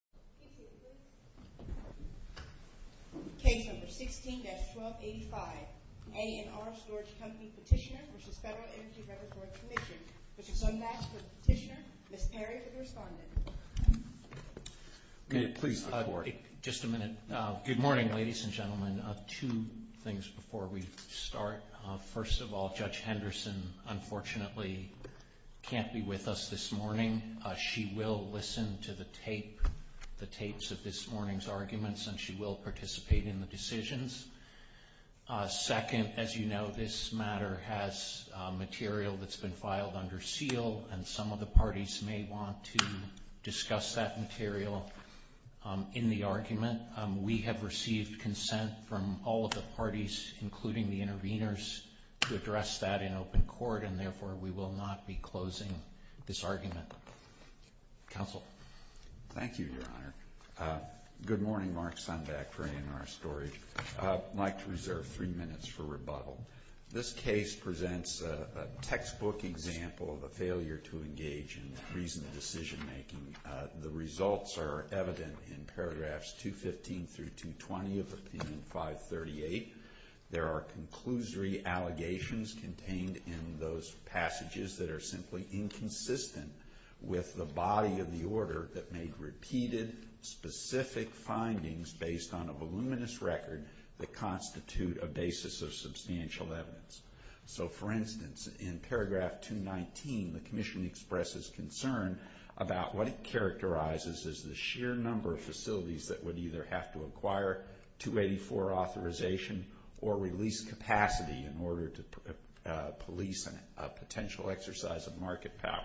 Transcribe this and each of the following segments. Mr. Sundback for the petitioner. Ms. Perry for the respondent. Good morning ladies and gentlemen. Two things before we start. First of all, Judge Henderson unfortunately can't be with us this morning. She will listen to the tapes of this morning's arguments and she will participate in the decisions. Second, as you know, this matter has material that's been filed under seal and some of the parties may want to discuss that material in the argument. We have received consent from all of the parties, including the interveners, to address that in open court and therefore we will not be closing this argument. Counsel. Thank you, Your Honor. Good morning, Mark Sundback for ANR Storage. I'd like to reserve three minutes for rebuttal. This case presents a textbook example of a failure to engage in reasoned decision making. The results are evident in paragraphs 215 through 220 of Opinion 538. There are conclusory allegations contained in those passages that are simply inconsistent with the body of the order that made repeated, specific findings based on a voluminous record that constitute a basis of substantial evidence. So, for instance, in paragraph 219, the Commission expresses concern about what it characterizes as the sheer number of facilities that would either have to acquire 284 authorization or release capacity in order to police a potential exercise of market power.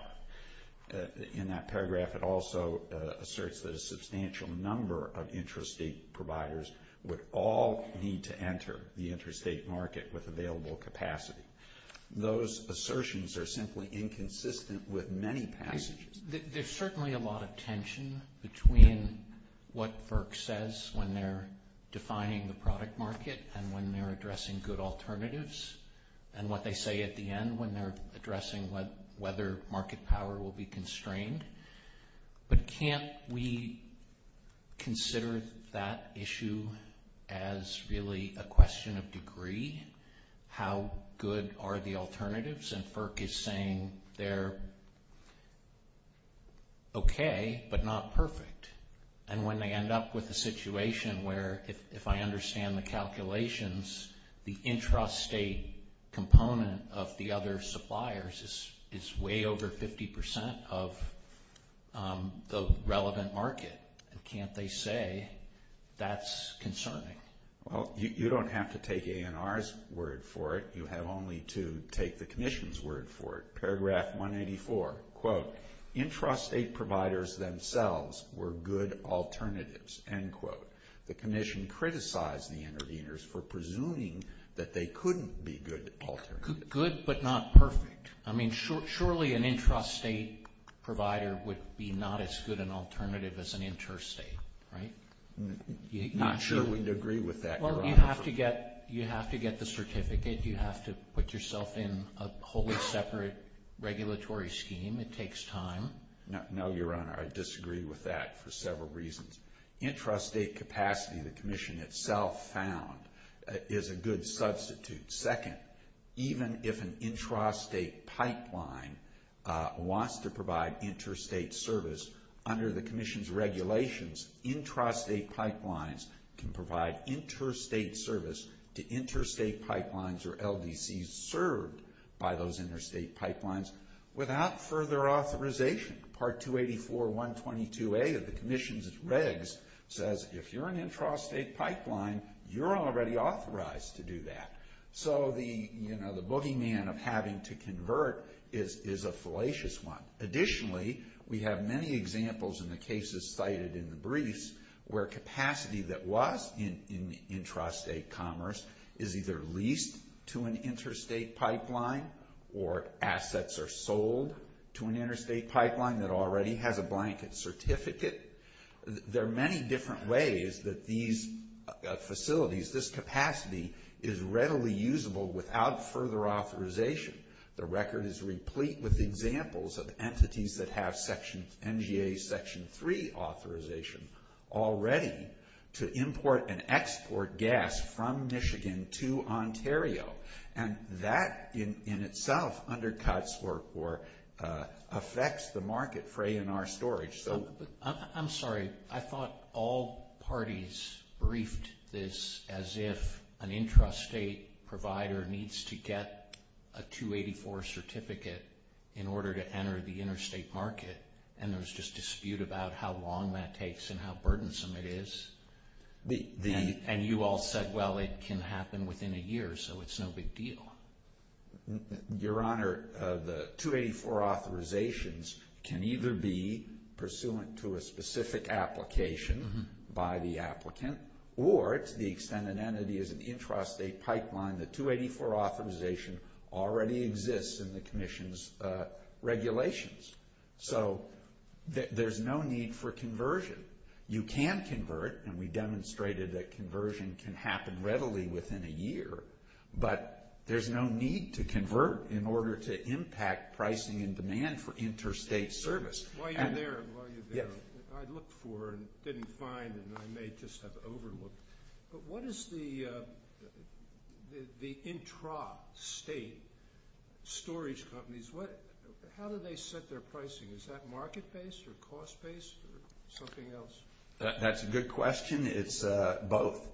In that paragraph, it also asserts that a substantial number of intrastate providers would all need to enter the interstate market with available capacity. Those assertions are simply inconsistent with many passages. There's certainly a lot of tension between what FERC says when they're defining the product market and when they're addressing good alternatives and what they say at the end when they're addressing whether market power will be constrained. But can't we consider that issue as really a question of degree? How good are the alternatives? And FERC is saying they're okay, but not perfect. And when they end up with a situation where, if I understand the calculations, the intrastate component of the other suppliers is way over 50% of the relevant market, can't they say that's concerning? Well, you don't have to take ANR's word for it. You have only to take the Commission's word for it. Paragraph 184, quote, intrastate providers themselves were good alternatives, end quote. The Commission criticized the interveners for presuming that they couldn't be good alternatives. Good but not perfect. I mean, surely an intrastate provider would be not as good an alternative as an interstate, right? Not sure we'd agree with that, Your Honor. Well, you have to get the certificate. You have to put yourself in a wholly separate regulatory scheme. It takes time. No, Your Honor. I disagree with that for several reasons. Intrastate capacity, the Commission itself found, is a good substitute. Second, even if an intrastate pipeline wants to provide interstate service, under the Commission's regulations, intrastate pipelines can provide interstate service to interstate pipelines or LDCs served by those interstate pipelines without further authorization. Part 284.122a of the Commission's regs says if you're an intrastate pipeline, you're already authorized to do that. So the, you know, the boogeyman of having to convert is a fallacious one. Additionally, we have many examples in the cases cited in the briefs where capacity that was in intrastate commerce is either leased to an interstate pipeline or assets are sold to an interstate pipeline that already has a blanket certificate. There are many different ways that these facilities, this capacity, is readily usable without further authorization. The record is replete with examples of entities that have section, NGA Section 3 authorization already to import and export gas from Michigan to Ontario. And that in itself undercuts or affects the market fray in our storage. I'm sorry, I thought all parties briefed this as if an intrastate provider needs to get a 284 certificate in order to enter the interstate market. And there was just dispute about how long that takes and how burdensome it is. And you all said, well, it can happen within a year, so it's no big deal. Your Honor, the 284 authorizations can either be pursuant to a specific application by the applicant or it's the extended entity is an intrastate pipeline. The 284 authorization already exists in the commission's regulations. So there's no need for conversion. You can convert, and we demonstrated that conversion can happen readily within a year. But there's no need to convert in order to impact pricing and demand for interstate service. While you're there, I looked for and didn't find, and I may just have overlooked. But what is the intrastate storage companies, how do they set their pricing? Is that market-based or cost-based or something else? That's a good question. It's both.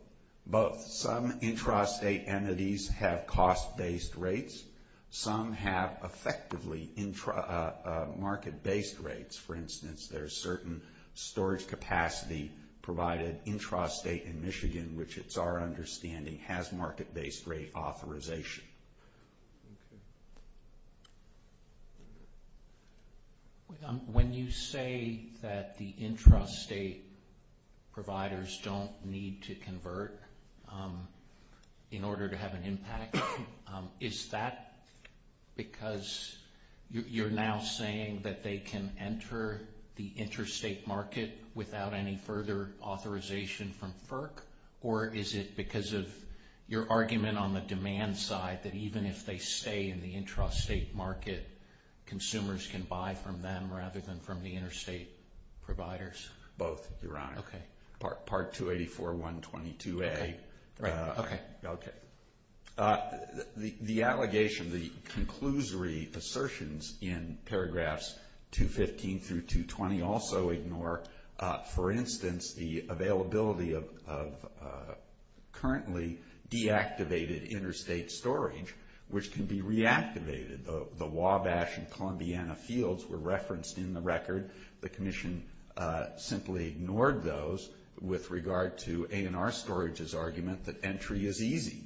Some intrastate entities have cost-based rates. Some have effectively market-based rates. For instance, there's certain storage capacity provided intrastate in Michigan, which it's our understanding has market-based rate authorization. Okay. When you say that the intrastate providers don't need to convert in order to have an impact, is that because you're now saying that they can enter the interstate market without any further authorization from FERC, or is it because of your argument on the demand side that even if they stay in the intrastate market, consumers can buy from them rather than from the interstate providers? Both, Your Honor. Okay. Part 284.122a. Okay. The allegation, the conclusory assertions in paragraphs 215 through 220 also ignore, for instance, the availability of currently deactivated interstate storage, which can be reactivated. The Wabash and Columbiana fields were referenced in the record. The Commission simply ignored those with regard to A&R Storage's argument that entry is easy.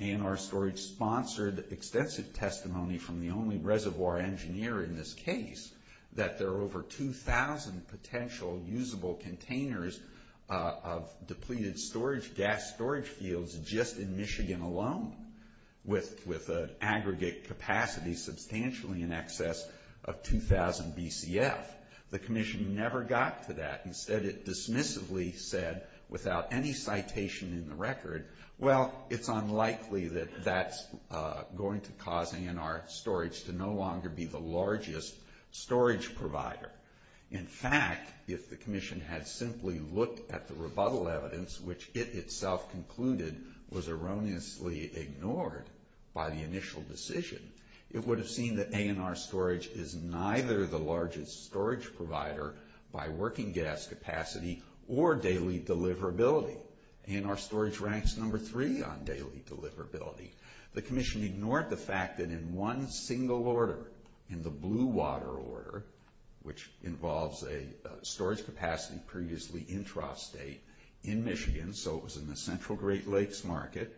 A&R Storage sponsored extensive testimony from the only reservoir engineer in this case that there are over 2,000 potential usable containers of depleted gas storage fields just in Michigan alone with an aggregate capacity substantially in excess of 2,000 BCF. The Commission never got to that. Instead, it dismissively said, without any citation in the record, well, it's unlikely that that's going to cause A&R Storage to no longer be the largest storage provider. In fact, if the Commission had simply looked at the rebuttal evidence, which it itself concluded was erroneously ignored by the initial decision, it would have seen that A&R Storage is neither the largest storage provider by working gas capacity or daily deliverability. So A&R Storage ranks number three on daily deliverability. The Commission ignored the fact that in one single order, in the Blue Water order, which involves a storage capacity previously intrastate in Michigan, so it was in the central Great Lakes market,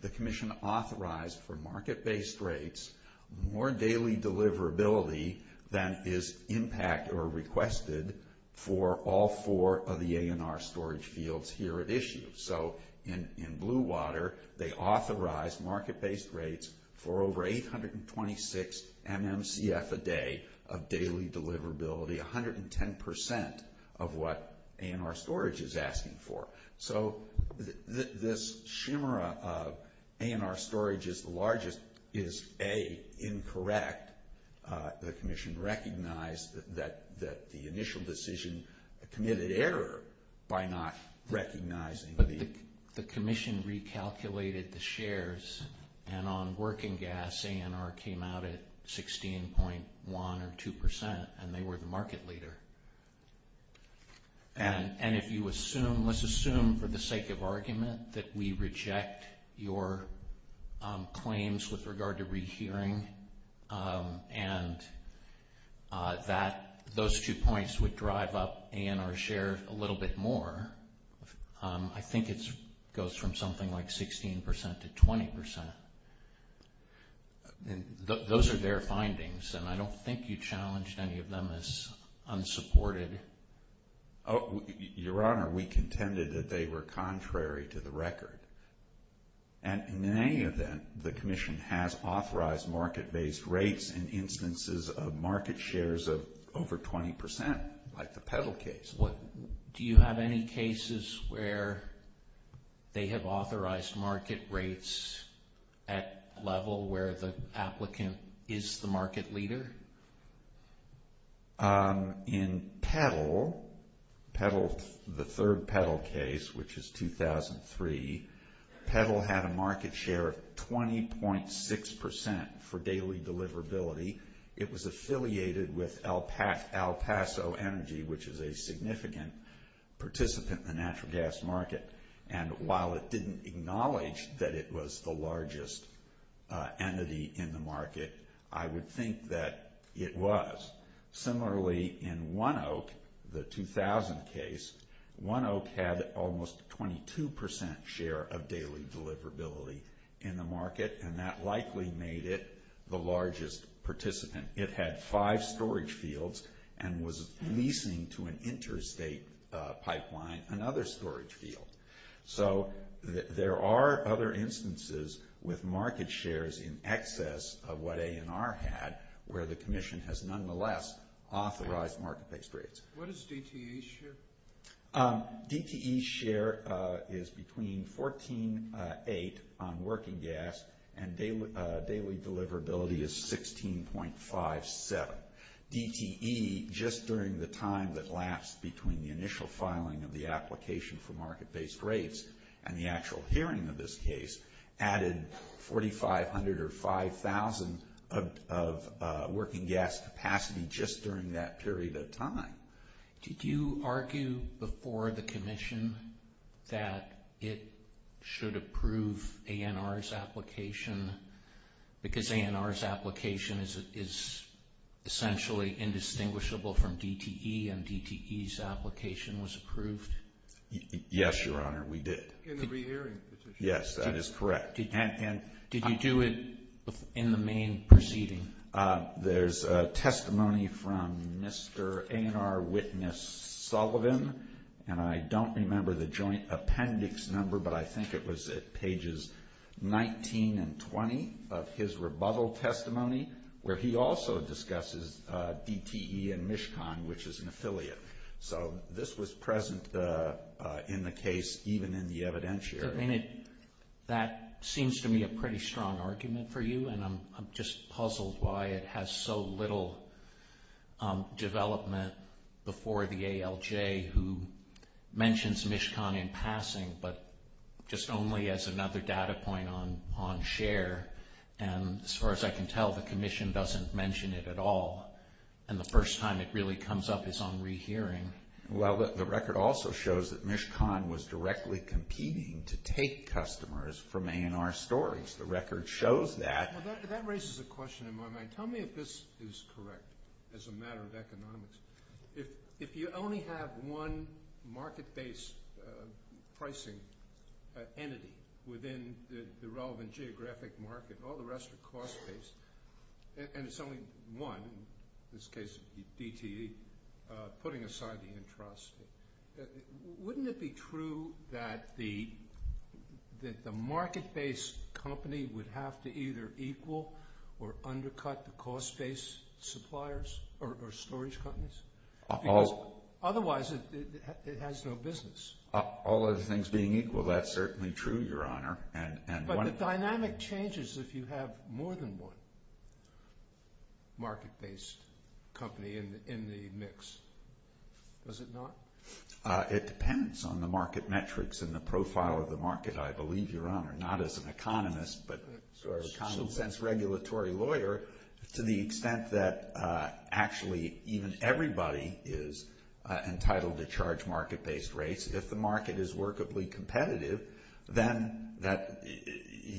the Commission authorized for market-based rates more daily deliverability than is impacted or requested for all four of the A&R Storage fields here at issue. So in Blue Water, they authorized market-based rates for over 826 MMCF a day of daily deliverability, 110% of what A&R Storage is asking for. So this shimmer of A&R Storage is the largest is, A, incorrect. The Commission recognized that the initial decision committed error by not recognizing the... But the Commission recalculated the shares, and on working gas, A&R came out at 16.1 or 2%, and they were the market leader. And if you assume, let's assume for the sake of argument that we reject your claims with regard to rehearing and that those two points would drive up A&R's share a little bit more, I think it goes from something like 16% to 20%. Those are their findings, and I don't think you challenged any of them as unsupported. Your Honor, we contended that they were contrary to the record. And in any event, the Commission has authorized market-based rates in instances of market shares of over 20%, like the Petal case. Do you have any cases where they have authorized market rates at level where the applicant is the market leader? In Petal, the third Petal case, which is 2003, Petal had a market share of 20.6% for daily deliverability. It was affiliated with El Paso Energy, which is a significant participant in the natural gas market. And while it didn't acknowledge that it was the largest entity in the market, I would think that it was. Similarly, in One Oak, the 2000 case, One Oak had almost a 22% share of daily deliverability in the market, and that likely made it the largest participant. It had five storage fields and was leasing to an interstate pipeline another storage field. So there are other instances with market shares in excess of what A&R had, where the Commission has nonetheless authorized market-based rates. What is DTE's share? DTE's share is between 14.8 on working gas, and daily deliverability is 16.57. DTE, just during the time that lapsed between the initial filing of the application for market-based rates and the actual hearing of this case, added 4,500 or 5,000 of working gas capacity just during that period of time. Did you argue before the Commission that it should approve A&R's application because A&R's application is essentially indistinguishable from DTE and DTE's application was approved? Yes, Your Honor, we did. In the rehearing petition? Yes, that is correct. Did you do it in the main proceeding? There's a testimony from Mr. A&R witness Sullivan, and I don't remember the joint appendix number, but I think it was at pages 19 and 20 of his rebuttal testimony where he also discusses DTE and Mishkan, which is an affiliate. So this was present in the case even in the evidentiary. That seems to me a pretty strong argument for you, and I'm just puzzled why it has so little development before the ALJ who mentions Mishkan in passing but just only as another data point on share. As far as I can tell, the Commission doesn't mention it at all, and the first time it really comes up is on rehearing. Well, the record also shows that Mishkan was directly competing to take customers from A&R storage. The record shows that. That raises a question in my mind. Tell me if this is correct as a matter of economics. If you only have one market-based pricing entity within the relevant geographic market, all the rest are cost-based, and it's only one, in this case DTE, putting aside the entrustment, wouldn't it be true that the market-based company would have to either equal or undercut the cost-based suppliers or storage companies? Because otherwise it has no business. All other things being equal, that's certainly true, Your Honor. But the dynamic changes if you have more than one market-based company in the mix. Does it not? It depends on the market metrics and the profile of the market, I believe, Your Honor, not as an economist but a common-sense regulatory lawyer, to the extent that actually even everybody is entitled to charge market-based rates. If the market is workably competitive, then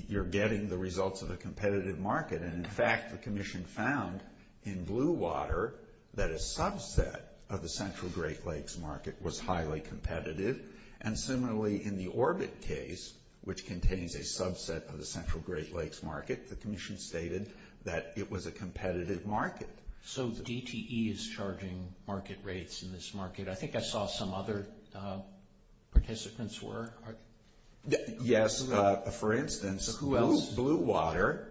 you're getting the results of a competitive market. In fact, the Commission found in Blue Water that a subset of the Central Great Lakes market was highly competitive, and similarly in the Orbit case, which contains a subset of the Central Great Lakes market, the Commission stated that it was a competitive market. So DTE is charging market rates in this market. I think I saw some other participants were. Yes, for instance, Blue Water,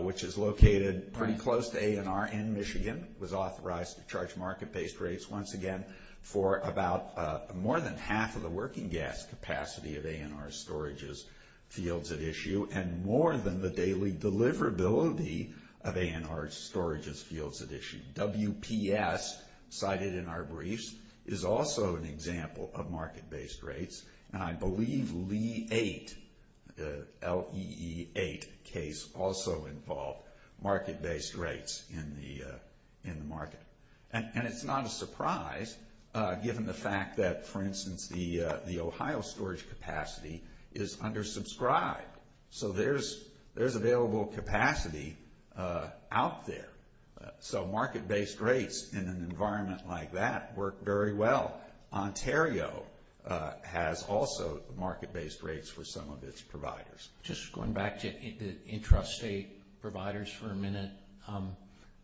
which is located pretty close to A&R in Michigan, was authorized to charge market-based rates, once again, for about more than half of the working gas capacity of A&R's storages fields at issue and more than the daily deliverability of A&R's storages fields at issue. WPS, cited in our briefs, is also an example of market-based rates. And I believe LE8, the L-E-E-8 case, also involved market-based rates in the market. And it's not a surprise, given the fact that, for instance, the Ohio storage capacity is undersubscribed. So there's available capacity out there. So market-based rates in an environment like that work very well. Ontario has also market-based rates for some of its providers. Just going back to intrastate providers for a minute,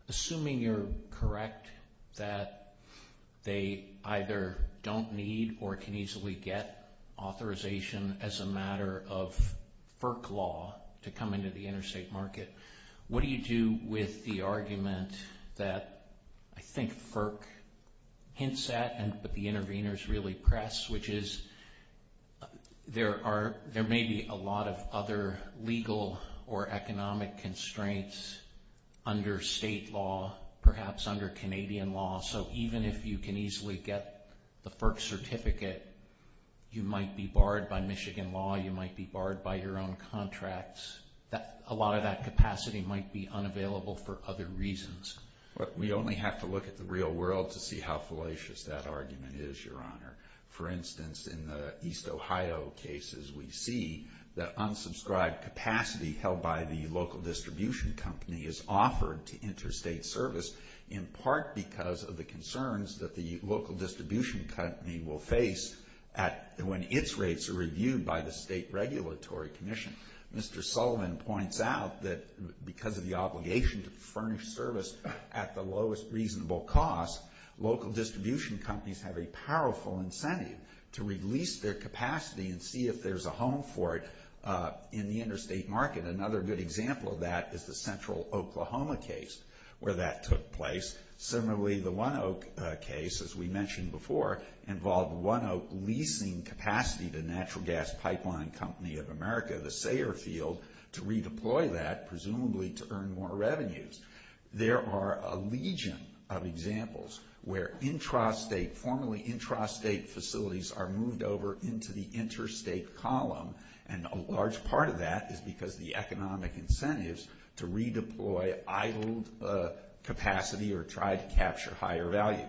assuming you're correct that they either don't need or can easily get authorization as a matter of FERC law to come into the interstate market, what do you do with the argument that I think FERC hints at and that the interveners really press, which is there may be a lot of other legal or economic constraints under state law, perhaps under Canadian law, so even if you can easily get the FERC certificate, you might be barred by Michigan law, you might be barred by your own contracts. A lot of that capacity might be unavailable for other reasons. We only have to look at the real world to see how fallacious that argument is, Your Honor. For instance, in the East Ohio cases, we see that unsubscribed capacity held by the local distribution company is offered to interstate service in part because of the concerns that the local distribution company will face when its rates are reviewed by the State Regulatory Commission. Mr. Sullivan points out that because of the obligation to furnish service at the lowest reasonable cost, local distribution companies have a powerful incentive to release their capacity and see if there's a home for it in the interstate market. Another good example of that is the Central Oklahoma case where that took place. Similarly, the One Oak case, as we mentioned before, involved One Oak leasing capacity to Natural Gas Pipeline Company of America, the Sayer Field, to redeploy that, presumably to earn more revenues. There are a legion of examples where intrastate, formerly intrastate facilities are moved over into the interstate column, and a large part of that is because the economic incentives to redeploy idled capacity or try to capture higher value.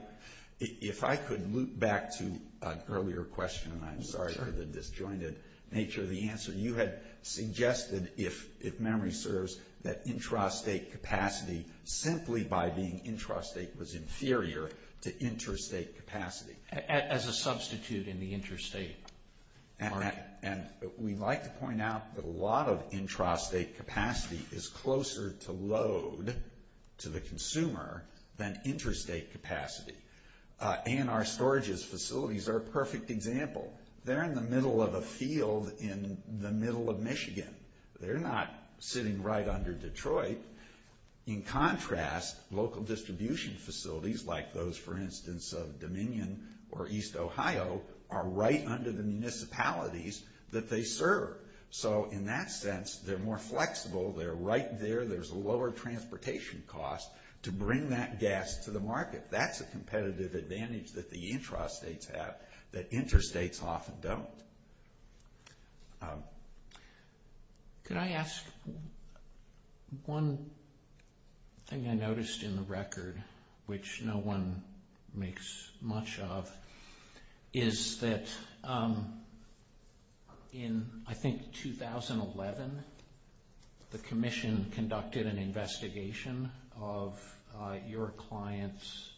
If I could loop back to an earlier question, and I'm sorry for the disjointed nature of the answer. You had suggested, if memory serves, that intrastate capacity, simply by being intrastate, was inferior to interstate capacity. As a substitute in the interstate market. We'd like to point out that a lot of intrastate capacity is closer to load to the consumer than interstate capacity. A&R Storages facilities are a perfect example. They're in the middle of a field in the middle of Michigan. They're not sitting right under Detroit. In contrast, local distribution facilities, like those, for instance, of Dominion or East Ohio, are right under the municipalities that they serve. So, in that sense, they're more flexible. They're right there. There's a lower transportation cost to bring that gas to the market. That's a competitive advantage that the intrastates have that interstates often don't. Can I ask one thing I noticed in the record, which no one makes much of, is that in, I think, 2011, the commission conducted an investigation of your clients'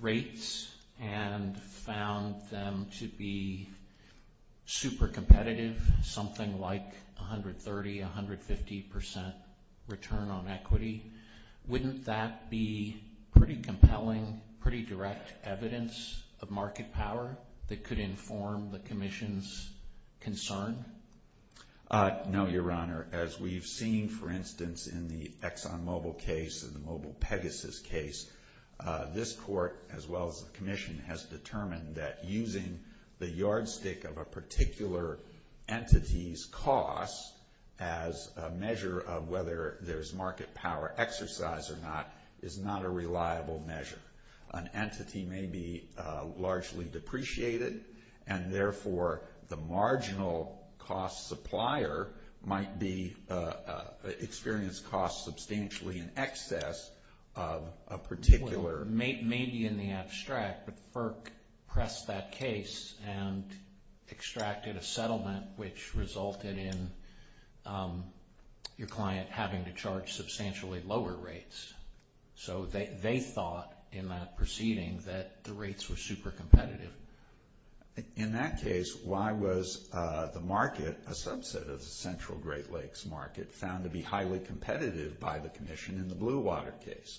rates and found them to be super competitive, something like 130, 150% return on equity. Wouldn't that be pretty compelling, pretty direct evidence of market power that could inform the commission's concern? No, Your Honor. As we've seen, for instance, in the ExxonMobil case and the Mobile Pegasus case, this court, as well as the commission, that using the yardstick of a particular entity's cost as a measure of whether there's market power exercise or not is not a reliable measure. An entity may be largely depreciated, and, therefore, the marginal cost supplier might experience costs substantially in excess of a particular- may be in the abstract, but FERC pressed that case and extracted a settlement which resulted in your client having to charge substantially lower rates. So they thought, in that proceeding, that the rates were super competitive. In that case, why was the market, a subset of the Central Great Lakes market, found to be highly competitive by the commission in the Blue Water case?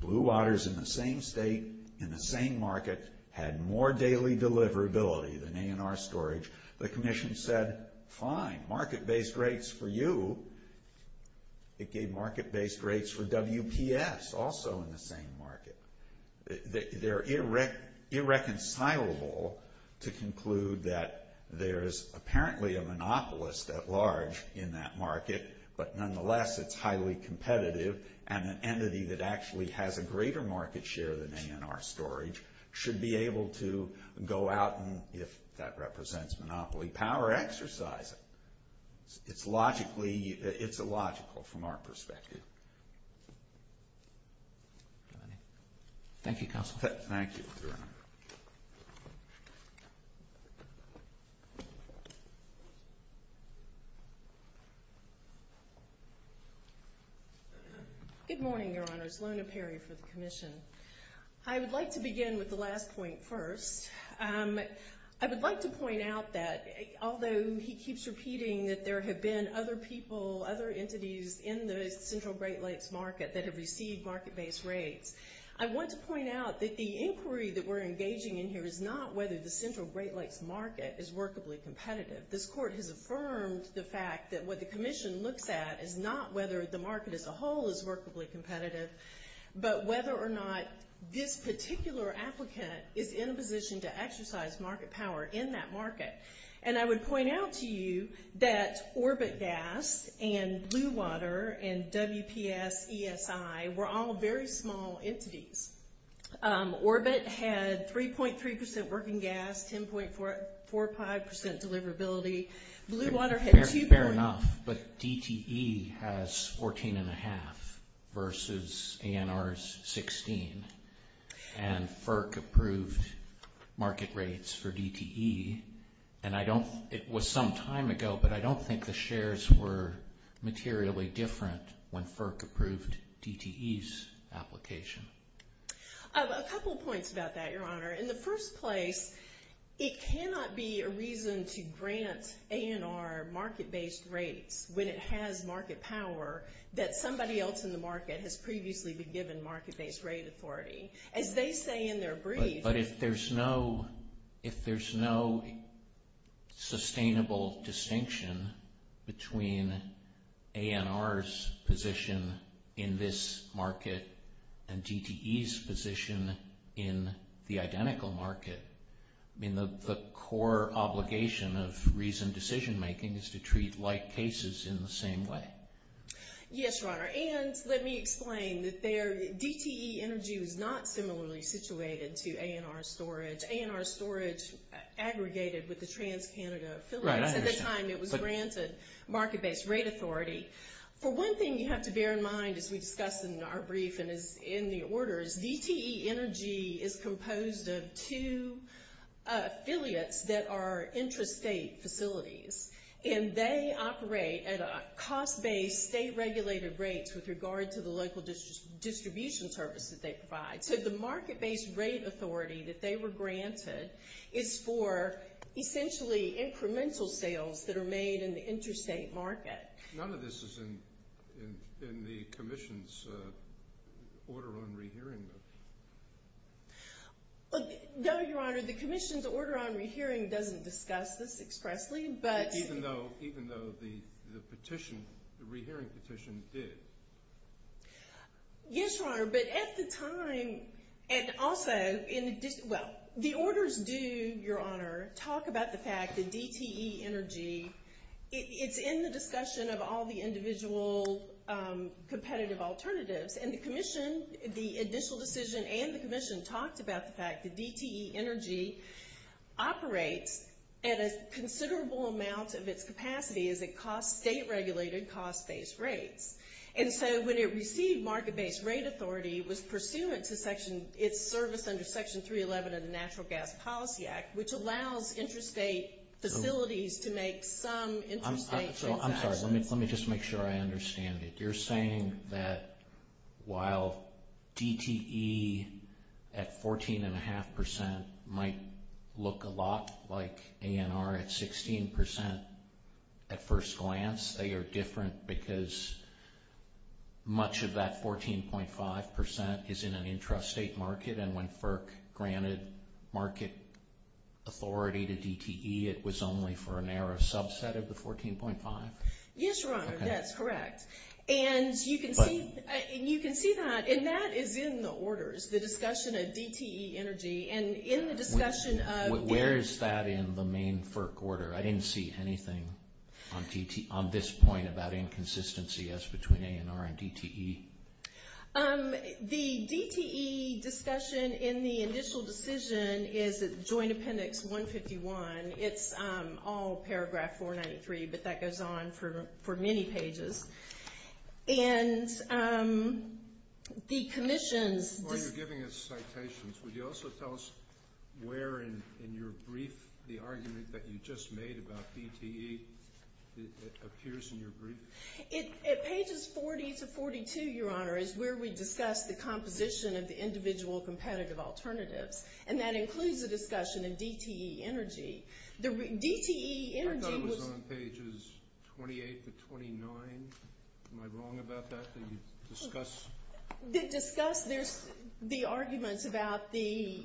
Blue Water's in the same state, in the same market, had more daily deliverability than A&R Storage. The commission said, fine, market-based rates for you. It gave market-based rates for WPS, also in the same market. They're irreconcilable to conclude that there's apparently a monopolist at large in that market, but, nonetheless, it's highly competitive, and an entity that actually has a greater market share than A&R Storage should be able to go out and, if that represents monopoly power, exercise it. It's logically- it's illogical from our perspective. Thank you, Counsel. Thank you. Good morning, Your Honors. Lona Perry for the commission. I would like to begin with the last point first. I would like to point out that, although he keeps repeating that there have been other people, other entities in the Central Great Lakes market that have received market-based rates, I want to point out that the inquiry that we're engaging in here is not whether the Central Great Lakes market is workably competitive. This court has affirmed the fact that what the commission looks at is not whether the market as a whole is workably competitive, but whether or not this particular applicant is in a position to exercise market power in that market. And I would point out to you that Orbit Gas and Blue Water and WPS ESI were all very small entities. Orbit had 3.3% working gas, 10.45% deliverability. Blue Water had- Fair enough. But DTE has 14.5% versus ANR's 16%. And FERC approved market rates for DTE. And I don't- it was some time ago, but I don't think the shares were materially different when FERC approved DTE's application. A couple points about that, Your Honor. In the first place, it cannot be a reason to grant ANR market-based rates when it has market power that somebody else in the market has previously been given market-based rate authority. As they say in their brief- But if there's no sustainable distinction between ANR's position in this market and DTE's position in the identical market, the core obligation of reasoned decision-making is to treat like cases in the same way. Yes, Your Honor. And let me explain that DTE Energy was not similarly situated to ANR Storage. ANR Storage aggregated with the TransCanada affiliates at the time it was granted market-based rate authority. For one thing you have to bear in mind as we discuss in our brief and in the orders, DTE Energy is composed of two affiliates that are intrastate facilities. And they operate at cost-based state-regulated rates with regard to the local distribution services they provide. So the market-based rate authority that they were granted is for essentially incremental sales that are made in the intrastate market. None of this is in the Commission's order on rehearing, though. No, Your Honor. The Commission's order on rehearing doesn't discuss this expressly. Even though the petition, the rehearing petition did. Yes, Your Honor. But at the time, and also in addition, well, the orders do, Your Honor, talk about the fact that DTE Energy, it's in the discussion of all the individual competitive alternatives. And the Commission, the initial decision and the Commission, talked about the fact that DTE Energy operates at a considerable amount of its capacity as it costs state-regulated cost-based rates. And so when it received market-based rate authority, it was pursuant to its service under Section 311 of the Natural Gas Policy Act, which allows intrastate facilities to make some intrastate transactions. I'm sorry. Let me just make sure I understand it. You're saying that while DTE at 14.5% might look a lot like ANR at 16% at first glance, they are different because much of that 14.5% is in an intrastate market, and when FERC granted market authority to DTE, it was only for a narrow subset of the 14.5%? Yes, Your Honor, that's correct. And you can see that, and that is in the orders, the discussion of DTE Energy, and in the discussion of ANR. Where is that in the main FERC order? I didn't see anything on this point about inconsistency as between ANR and DTE. The DTE discussion in the initial decision is Joint Appendix 151. It's all Paragraph 493, but that goes on for many pages. And the Commission's— While you're giving us citations, would you also tell us where in your brief the argument that you just made about DTE appears in your brief? At pages 40 to 42, Your Honor, is where we discuss the composition of the individual competitive alternatives, and that includes the discussion of DTE Energy. DTE Energy was— I thought it was on pages 28 to 29. Am I wrong about that? Did you discuss— Discuss the arguments about the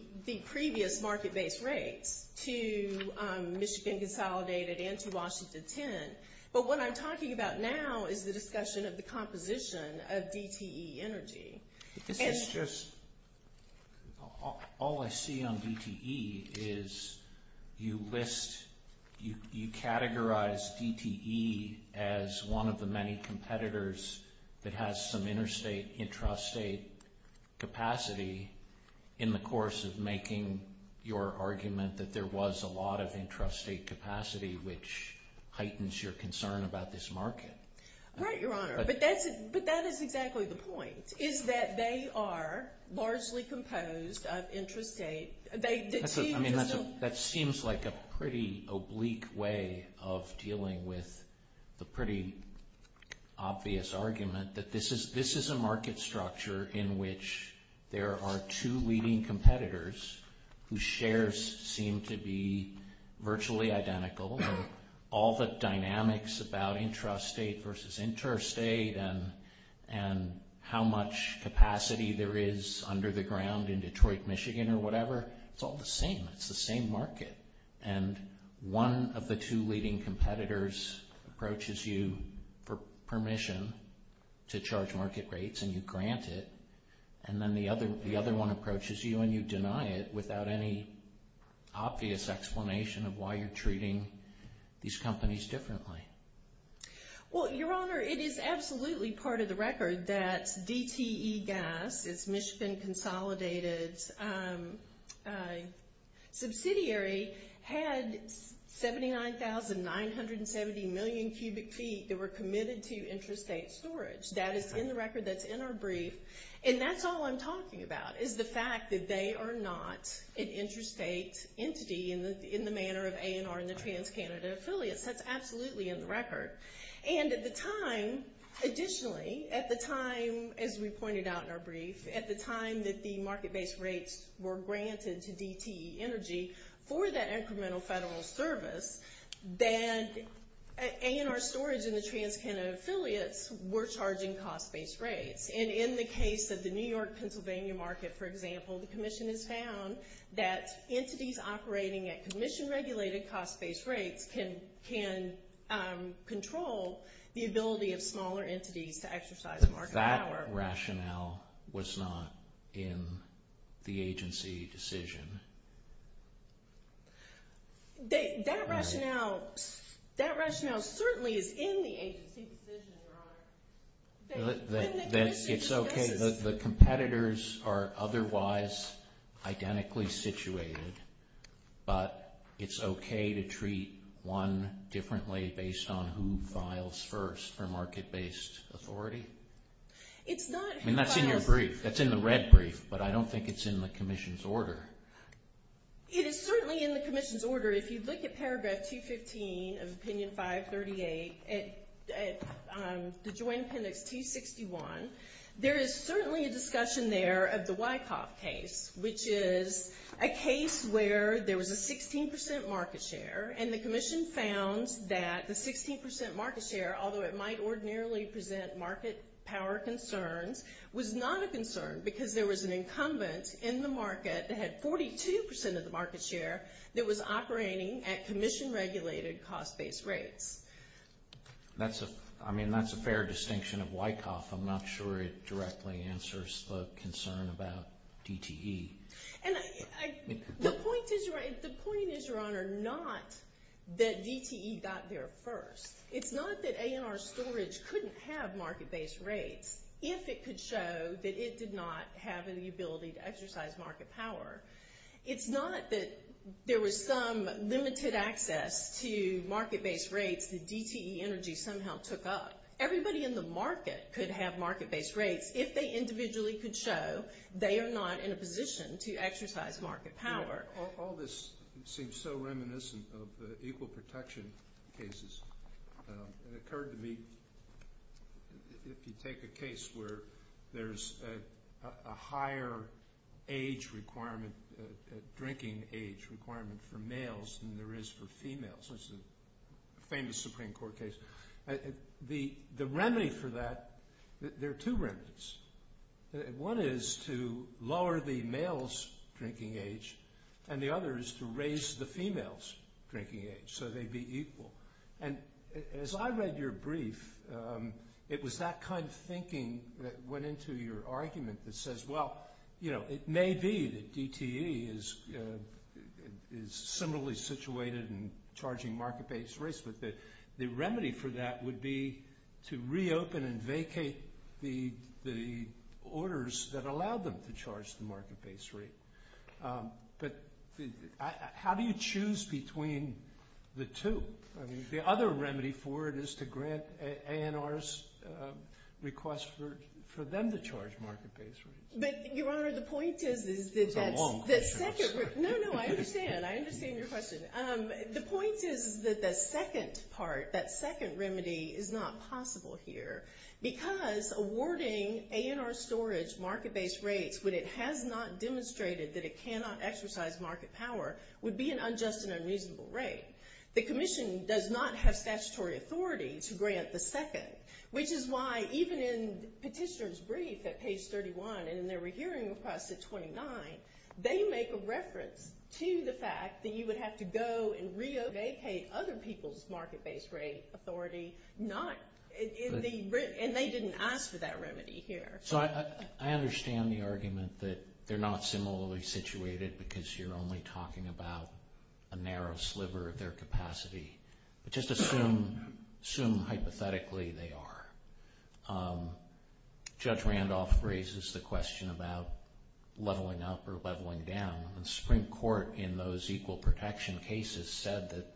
previous market-based rates to Michigan Consolidated and to Washington Tent. But what I'm talking about now is the discussion of the composition of DTE Energy. This is just—all I see on DTE is you list—you categorize DTE as one of the many competitors that has some interstate, intrastate capacity in the course of making your argument that there was a lot of intrastate capacity, which heightens your concern about this market. Right, Your Honor. But that is exactly the point, is that they are largely composed of intrastate— That seems like a pretty oblique way of dealing with the pretty obvious argument that this is a market structure in which there are two leading competitors whose shares seem to be virtually identical, and all the dynamics about intrastate versus interstate and how much capacity there is under the ground in Detroit, Michigan or whatever, it's all the same. It's the same market. And one of the two leading competitors approaches you for permission to charge market rates, and you grant it. And then the other one approaches you and you deny it without any obvious explanation of why you're treating these companies differently. Well, Your Honor, it is absolutely part of the record that DTE Gas, its Michigan-consolidated subsidiary, had 79,970 million cubic feet that were committed to intrastate storage. That is in the record that's in our brief, and that's all I'm talking about is the fact that they are not an intrastate entity in the manner of A&R and the TransCanada affiliates. That's absolutely in the record. And at the time, additionally, at the time, as we pointed out in our brief, at the time that the market-based rates were granted to DTE Energy for that incremental federal service, that A&R Storage and the TransCanada affiliates were charging cost-based rates. And in the case of the New York-Pennsylvania market, for example, the commission has found that entities operating at commission-regulated cost-based rates can control the ability of smaller entities to exercise market power. That rationale was not in the agency decision. That rationale certainly is in the agency decision, Robert. It's okay. The competitors are otherwise identically situated, but it's okay to treat one differently based on who files first for market-based authority. I mean, that's in your brief. That's in the red brief, but I don't think it's in the commission's order. It is certainly in the commission's order. If you look at Paragraph 215 of Opinion 538, the Joint Appendix 261, there is certainly a discussion there of the Wyckoff case, which is a case where there was a 16% market share, and the commission found that the 16% market share, although it might ordinarily present market power concerns, was not a concern because there was an incumbent in the market that had 42% of the market share that was operating at commission-regulated cost-based rates. I mean, that's a fair distinction of Wyckoff. I'm not sure it directly answers the concern about DTE. The point is, Your Honor, not that DTE got there first. It's not that A&R Storage couldn't have market-based rates if it could show that it did not have the ability to exercise market power. It's not that there was some limited access to market-based rates that DTE Energy somehow took up. Everybody in the market could have market-based rates if they individually could show they are not in a position to exercise market power. All this seems so reminiscent of the equal protection cases. It occurred to me, if you take a case where there's a higher age requirement, a drinking age requirement for males than there is for females, which is a famous Supreme Court case. The remedy for that, there are two remedies. One is to lower the male's drinking age, and the other is to raise the female's drinking age so they'd be equal. As I read your brief, it was that kind of thinking that went into your argument that says, well, it may be that DTE is similarly situated in charging market-based rates, but the remedy for that would be to reopen and vacate the orders that allowed them to charge the market-based rate. But how do you choose between the two? The other remedy for it is to grant ANR's request for them to charge market-based rates. But, Your Honor, the point is that that's... That's a long question, I'm sorry. No, no, I understand. I understand your question. The point is that the second part, that second remedy, is not possible here because awarding ANR storage market-based rates when it has not demonstrated that it cannot exercise market power would be an unjust and unreasonable rate. The Commission does not have statutory authority to grant the second, which is why even in Petitioner's brief at page 31 and in their rehearing request at 29, they make a reference to the fact that you would have to go and re-vacate other people's market-based rate authority, and they didn't ask for that remedy here. So I understand the argument that they're not similarly situated because you're only talking about a narrow sliver of their capacity, but just assume hypothetically they are. Judge Randolph raises the question about leveling up or leveling down, and the Supreme Court, in those equal protection cases, said that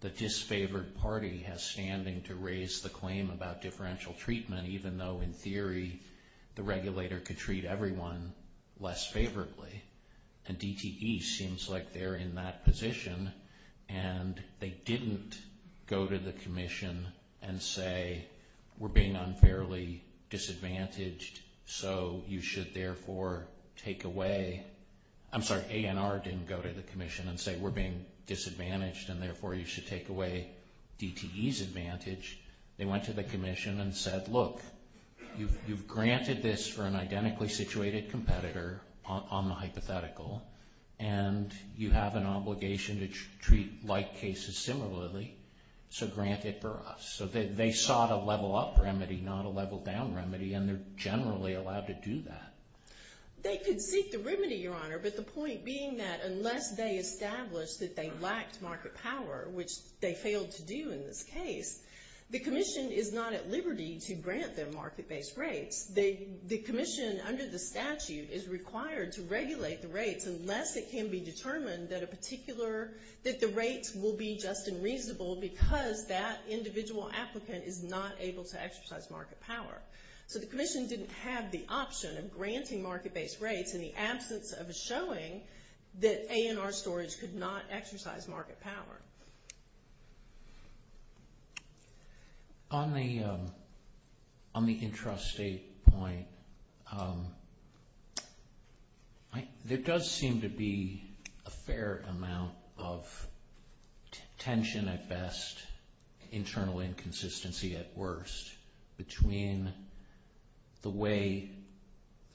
the disfavored party has standing to raise the claim about differential treatment, even though, in theory, the regulator could treat everyone less favorably. And DTE seems like they're in that position, and they didn't go to the Commission and say we're being unfairly disadvantaged, so you should therefore take away—I'm sorry, ANR didn't go to the Commission and say we're being disadvantaged and therefore you should take away DTE's advantage. They went to the Commission and said, look, you've granted this for an identically situated competitor on the hypothetical, and you have an obligation to treat like cases similarly, so grant it for us. So they sought a level-up remedy, not a level-down remedy, and they're generally allowed to do that. They could seek the remedy, Your Honor, but the point being that unless they established that they lacked market power, which they failed to do in this case, the Commission is not at liberty to grant them market-based rates. The Commission, under the statute, is required to regulate the rates unless it can be determined that the rates will be just and reasonable because that individual applicant is not able to exercise market power. So the Commission didn't have the option of granting market-based rates in the absence of showing that ANR storage could not exercise market power. Thank you, Your Honor. On the intrastate point, there does seem to be a fair amount of tension at best, internal inconsistency at worst, between the way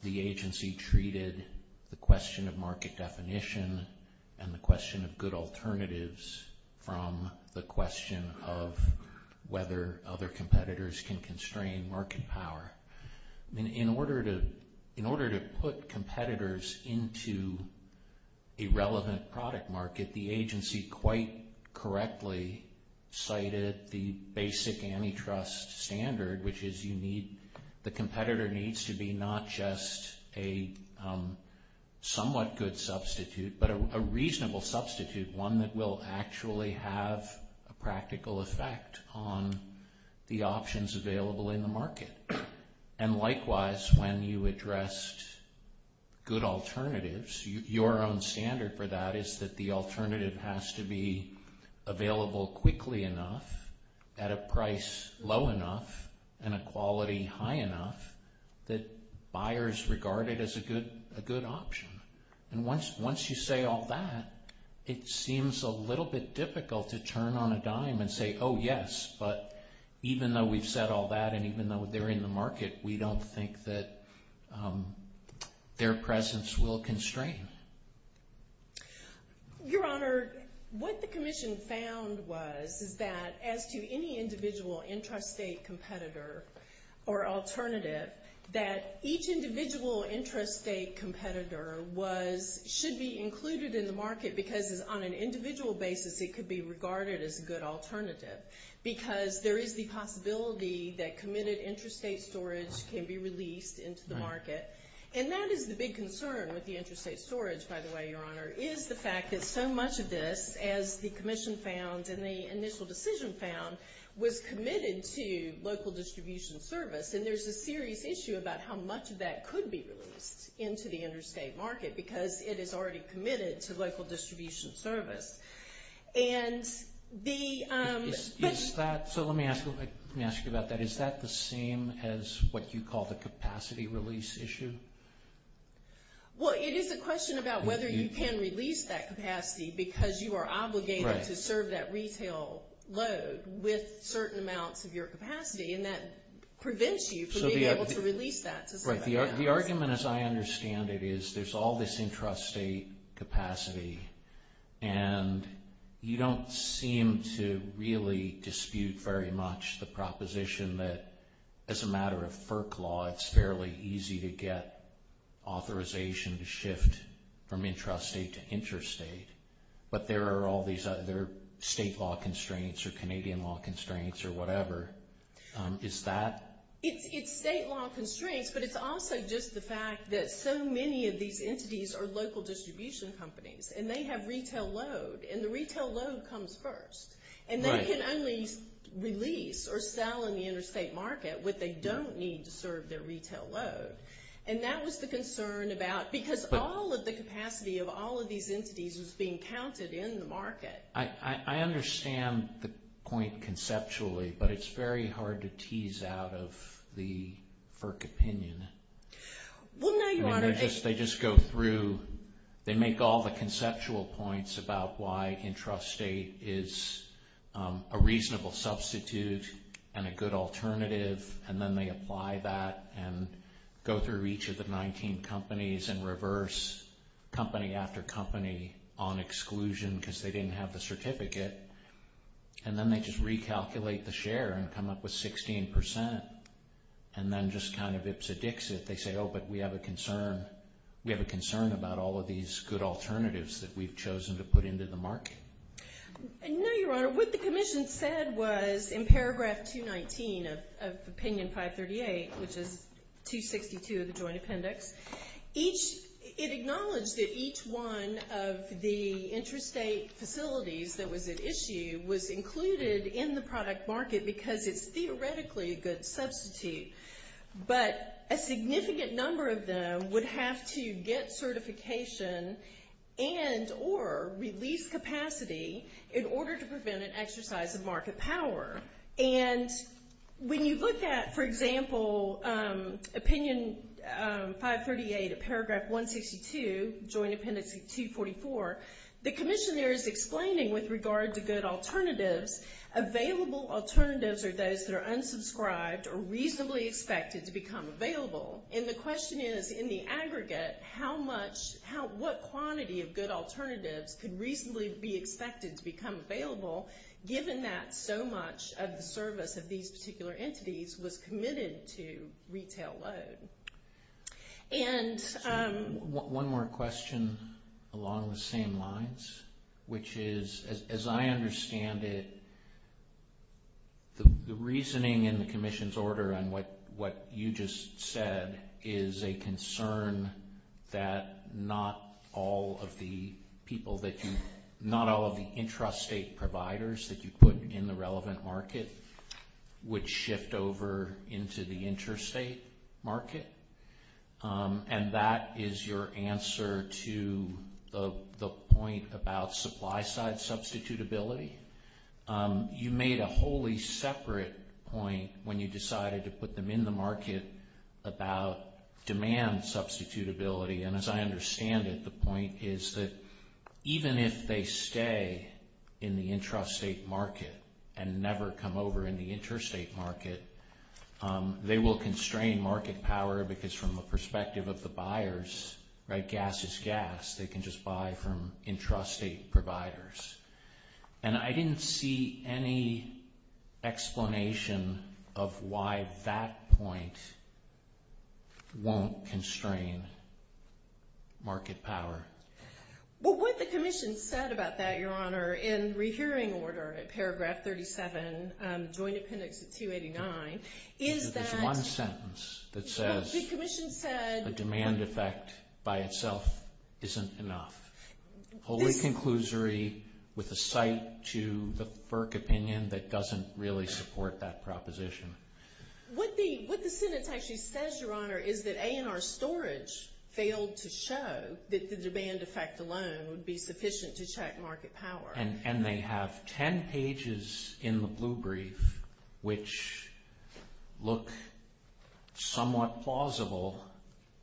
the agency treated the question of market definition and the question of good alternatives from the question of whether other competitors can constrain market power. In order to put competitors into a relevant product market, the agency quite correctly cited the basic antitrust standard, which is the competitor needs to be not just a somewhat good substitute but a reasonable substitute, one that will actually have a practical effect on the options available in the market. And likewise, when you addressed good alternatives, your own standard for that is that the alternative has to be available quickly enough, at a price low enough, and a quality high enough, that buyers regard it as a good option. And once you say all that, it seems a little bit difficult to turn on a dime and say, oh, yes, but even though we've said all that and even though they're in the market, we don't think that their presence will constrain. Your Honor, what the Commission found was is that as to any individual intrastate competitor or alternative, that each individual intrastate competitor should be included in the market because on an individual basis it could be regarded as a good alternative because there is the possibility that committed intrastate storage can be released into the market. And that is the big concern with the intrastate storage, by the way, Your Honor, is the fact that so much of this, as the Commission found and the initial decision found, was committed to local distribution service. And there's a serious issue about how much of that could be released into the intrastate market because it is already committed to local distribution service. And the – Is that – so let me ask you about that. Is that the same as what you call the capacity release issue? Well, it is a question about whether you can release that capacity because you are obligated to serve that retail load with certain amounts of your capacity and that prevents you from being able to release that to certain amounts. The argument, as I understand it, is there's all this intrastate capacity and you don't seem to really dispute very much the proposition that as a matter of FERC law, it's fairly easy to get authorization to shift from intrastate to interstate. But there are all these other state law constraints or Canadian law constraints or whatever. Is that – It's state law constraints, but it's also just the fact that so many of these entities are local distribution companies and they have retail load. And the retail load comes first. And they can only release or sell in the intrastate market what they don't need to serve their retail load. And that was the concern about – because all of the capacity of all of these entities was being counted in the market. I understand the point conceptually, but it's very hard to tease out of the FERC opinion. Well, no, Your Honor. They just go through – they make all the conceptual points about why intrastate is a reasonable substitute and a good alternative. And then they apply that and go through each of the 19 companies and reverse company after company on exclusion because they didn't have the certificate. And then they just recalculate the share and come up with 16%. And then just kind of ips and dicks it. They say, oh, but we have a concern. about all of these good alternatives that we've chosen to put into the market? No, Your Honor. What the commission said was in paragraph 219 of opinion 538, which is 262 of the joint appendix, it acknowledged that each one of the intrastate facilities that was at issue was included in the product market because it's theoretically a good substitute. But a significant number of them would have to get certification and or release capacity in order to prevent an exercise of market power. And when you look at, for example, opinion 538 of paragraph 162, joint appendix 244, the commission there is explaining with regard to good alternatives, available alternatives are those that are unsubscribed or reasonably expected to become available. And the question is, in the aggregate, what quantity of good alternatives could reasonably be expected to become available given that so much of the service of these particular entities was committed to retail load? One more question along the same lines, which is, as I understand it, the reasoning in the commission's order and what you just said is a concern that not all of the people that you, not all of the intrastate providers that you put in the relevant market would shift over into the intrastate market. And that is your answer to the point about supply side substitutability. You made a wholly separate point when you decided to put them in the market about demand substitutability. And as I understand it, the point is that even if they stay in the intrastate market and never come over in the intrastate market, they will constrain market power because from the perspective of the buyers, right, gas is gas. They can just buy from intrastate providers. And I didn't see any explanation of why that point won't constrain market power. Well, what the commission said about that, Your Honor, in rehearing order at Paragraph 37, Joint Appendix 289, is that the commission said There's one sentence that says the demand effect by itself isn't enough. Holy conclusory with a cite to the FERC opinion that doesn't really support that proposition. What the sentence actually says, Your Honor, is that A&R Storage failed to show that the demand effect alone would be sufficient to check market power. And they have 10 pages in the blue brief which look somewhat plausible.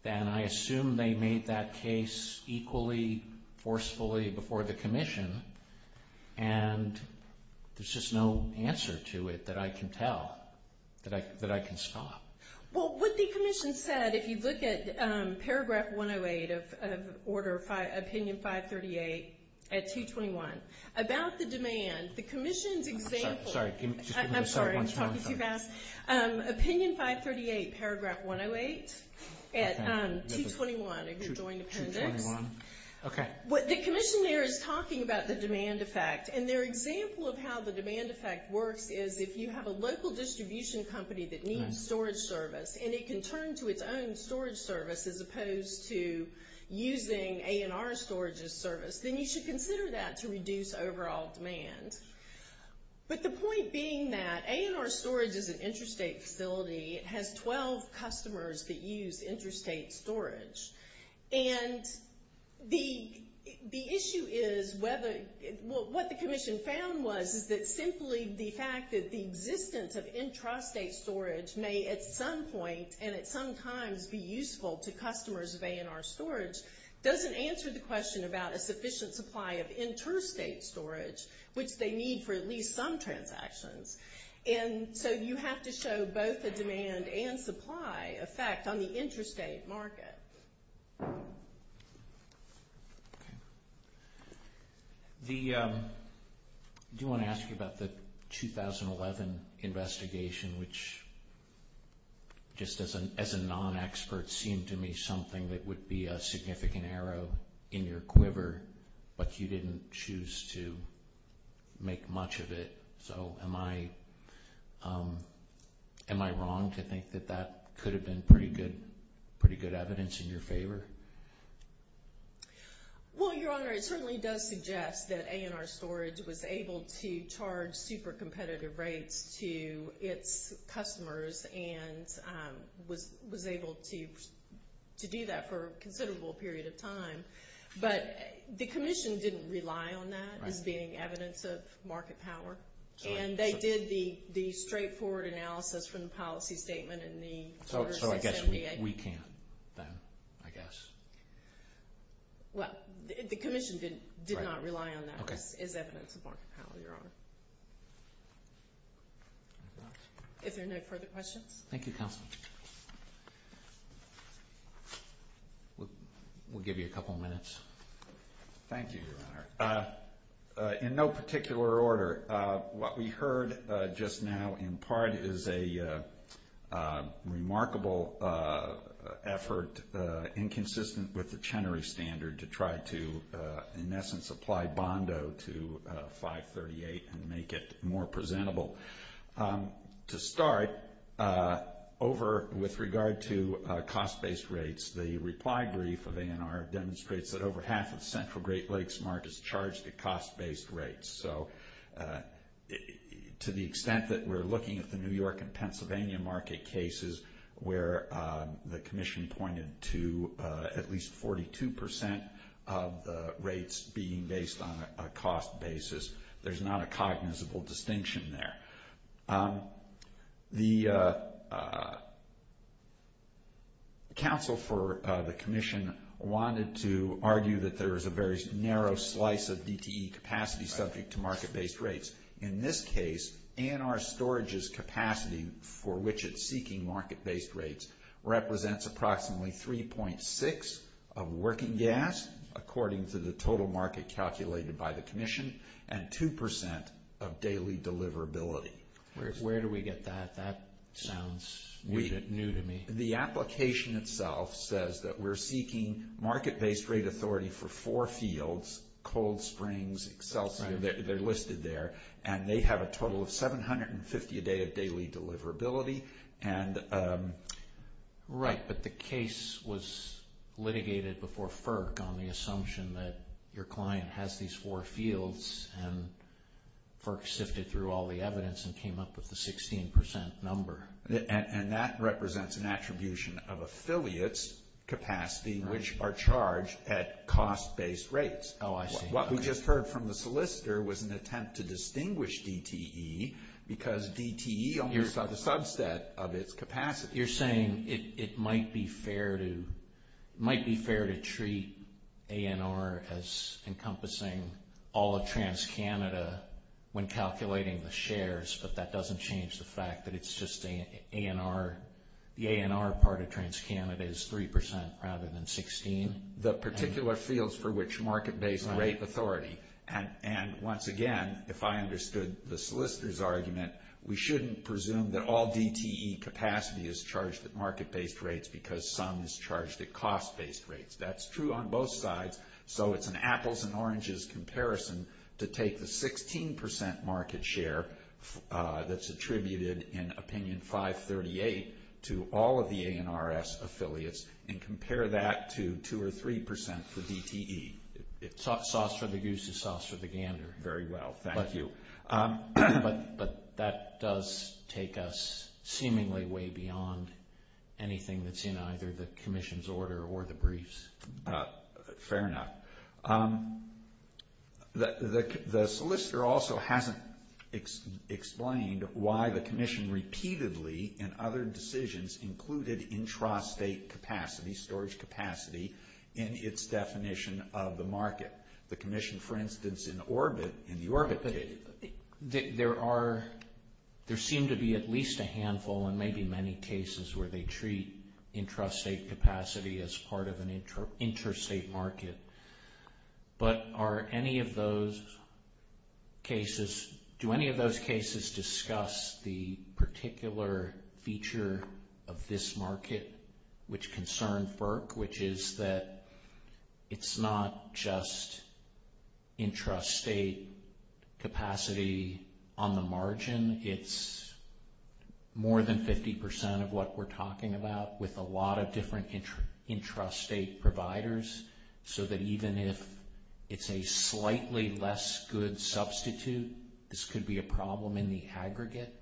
And I assume they made that case equally forcefully before the commission. And there's just no answer to it that I can tell, that I can stop. Well, what the commission said, if you look at Paragraph 108 of Opinion 538 at 221, about the demand, the commission's example. I'm sorry, I'm talking too fast. Opinion 538, Paragraph 108 at 221 of the Joint Appendix. Okay. The commission there is talking about the demand effect. And their example of how the demand effect works is if you have a local distribution company that needs storage service and it can turn to its own storage service as opposed to using A&R Storage's service, then you should consider that to reduce overall demand. But the point being that A&R Storage is an interstate facility. It has 12 customers that use interstate storage. And the issue is whether what the commission found was is that simply the fact that the existence of intrastate storage may at some point and at some times be useful to customers of A&R Storage doesn't answer the question about a sufficient supply of interstate storage, which they need for at least some transactions. And so you have to show both the demand and supply effect on the interstate market. Okay. Do you want to ask about the 2011 investigation, which just as a non-expert seemed to me something that would be a significant arrow in your quiver, but you didn't choose to make much of it. So am I wrong to think that that could have been pretty good evidence in your favor? Well, Your Honor, it certainly does suggest that A&R Storage was able to charge super competitive rates to its customers and was able to do that for a considerable period of time. But the commission didn't rely on that as being evidence of market power. And they did the straightforward analysis from the policy statement. So I guess we can't then, I guess. Well, the commission did not rely on that as evidence of market power, Your Honor. If there are no further questions. Thank you, Counsel. We'll give you a couple of minutes. Thank you, Your Honor. In no particular order, what we heard just now in part is a remarkable effort, inconsistent with the Chenery standard to try to, in essence, apply Bondo to 538 and make it more presentable. To start, over with regard to cost-based rates, the reply brief of A&R demonstrates that over half of Central Great Lakes markets charge the cost-based rates. So to the extent that we're looking at the New York and Pennsylvania market cases where the commission pointed to at least 42% of the rates being based on a cost basis, there's not a cognizable distinction there. The counsel for the commission wanted to argue that there was a very narrow slice of DTE capacity subject to market-based rates. In this case, A&R storage's capacity for which it's seeking market-based rates represents approximately 3.6 of working gas, according to the total market calculated by the commission, and 2% of daily deliverability. Where do we get that? That sounds new to me. The application itself says that we're seeking market-based rate authority for four fields, Cold Springs, Excelsior, they're listed there, and they have a total of 750 a day of daily deliverability. Right, but the case was litigated before FERC on the assumption that your client has these four fields, and FERC sifted through all the evidence and came up with the 16% number. And that represents an attribution of affiliates' capacity, which are charged at cost-based rates. Oh, I see. What we just heard from the solicitor was an attempt to distinguish DTE because DTE almost has a subset of its capacity. You're saying it might be fair to treat ANR as encompassing all of TransCanada when calculating the shares, but that doesn't change the fact that it's just ANR. The ANR part of TransCanada is 3% rather than 16. The particular fields for which market-based rate authority, and once again, if I understood the solicitor's argument, we shouldn't presume that all DTE capacity is charged at market-based rates because some is charged at cost-based rates. That's true on both sides. So it's an apples and oranges comparison to take the 16% market share that's attributed in Opinion 538 to all of the ANRS affiliates and compare that to 2% or 3% for DTE. Sauce for the goose is sauce for the gander. Very well, thank you. But that does take us seemingly way beyond anything that's in either the commission's order or the briefs. Fair enough. The solicitor also hasn't explained why the commission repeatedly in other decisions included intrastate capacity, storage capacity, in its definition of the market. The commission, for instance, in the Orbit case. There seem to be at least a handful and maybe many cases where they treat intrastate capacity as part of an interstate market. But do any of those cases discuss the particular feature of this market which concerns FERC, which is that it's not just intrastate capacity on the margin. It's more than 50% of what we're talking about with a lot of different intrastate providers so that even if it's a slightly less good substitute, this could be a problem in the aggregate.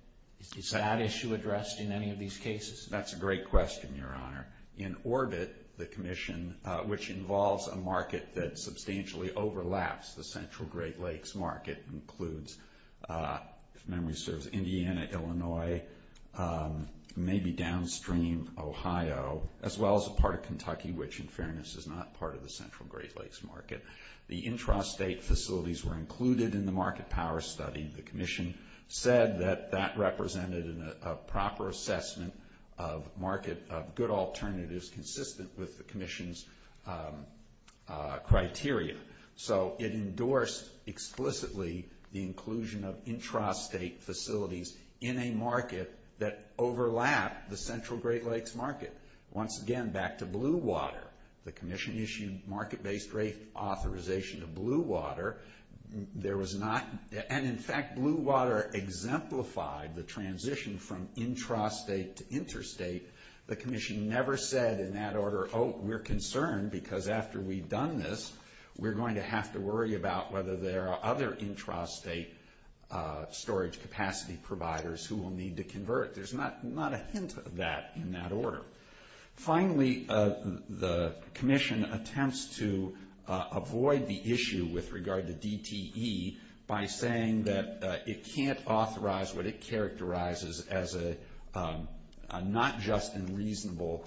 Is that issue addressed in any of these cases? That's a great question, Your Honor. In Orbit, the commission, which involves a market that substantially overlaps the Central Great Lakes market, includes, if memory serves, Indiana, Illinois, maybe downstream Ohio, as well as a part of Kentucky, which in fairness is not part of the Central Great Lakes market. The intrastate facilities were included in the market power study. The commission said that that represented a proper assessment of market, of good alternatives consistent with the commission's criteria. So it endorsed explicitly the inclusion of intrastate facilities in a market that overlapped the Central Great Lakes market. Once again, back to Blue Water, the commission issued market-based rate authorization of Blue Water. There was not, and in fact, Blue Water exemplified the transition from intrastate to interstate. The commission never said in that order, oh, we're concerned because after we've done this, we're going to have to worry about whether there are other intrastate storage capacity providers who will need to convert. There's not a hint of that in that order. Finally, the commission attempts to avoid the issue with regard to DTE by saying that it can't authorize what it characterizes as a not just and reasonable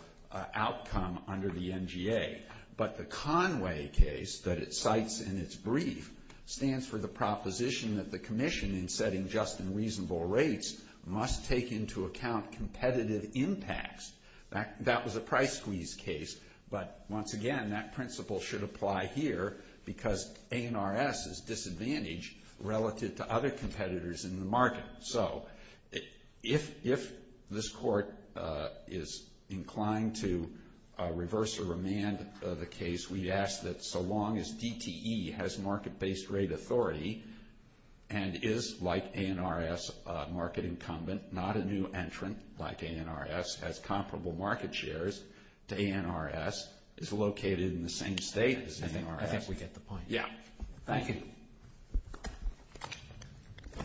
outcome under the NGA. But the Conway case that it cites in its brief stands for the proposition that the commission in setting just and reasonable rates must take into account competitive impacts. That was a price squeeze case. But once again, that principle should apply here because ANRS is disadvantaged relative to other competitors in the market. So if this court is inclined to reverse or remand the case, we ask that so long as DTE has market-based rate authority and is like ANRS market incumbent, not a new entrant like ANRS, has comparable market shares to ANRS, is located in the same state as ANRS. I think we get the point. Yeah. Thank you.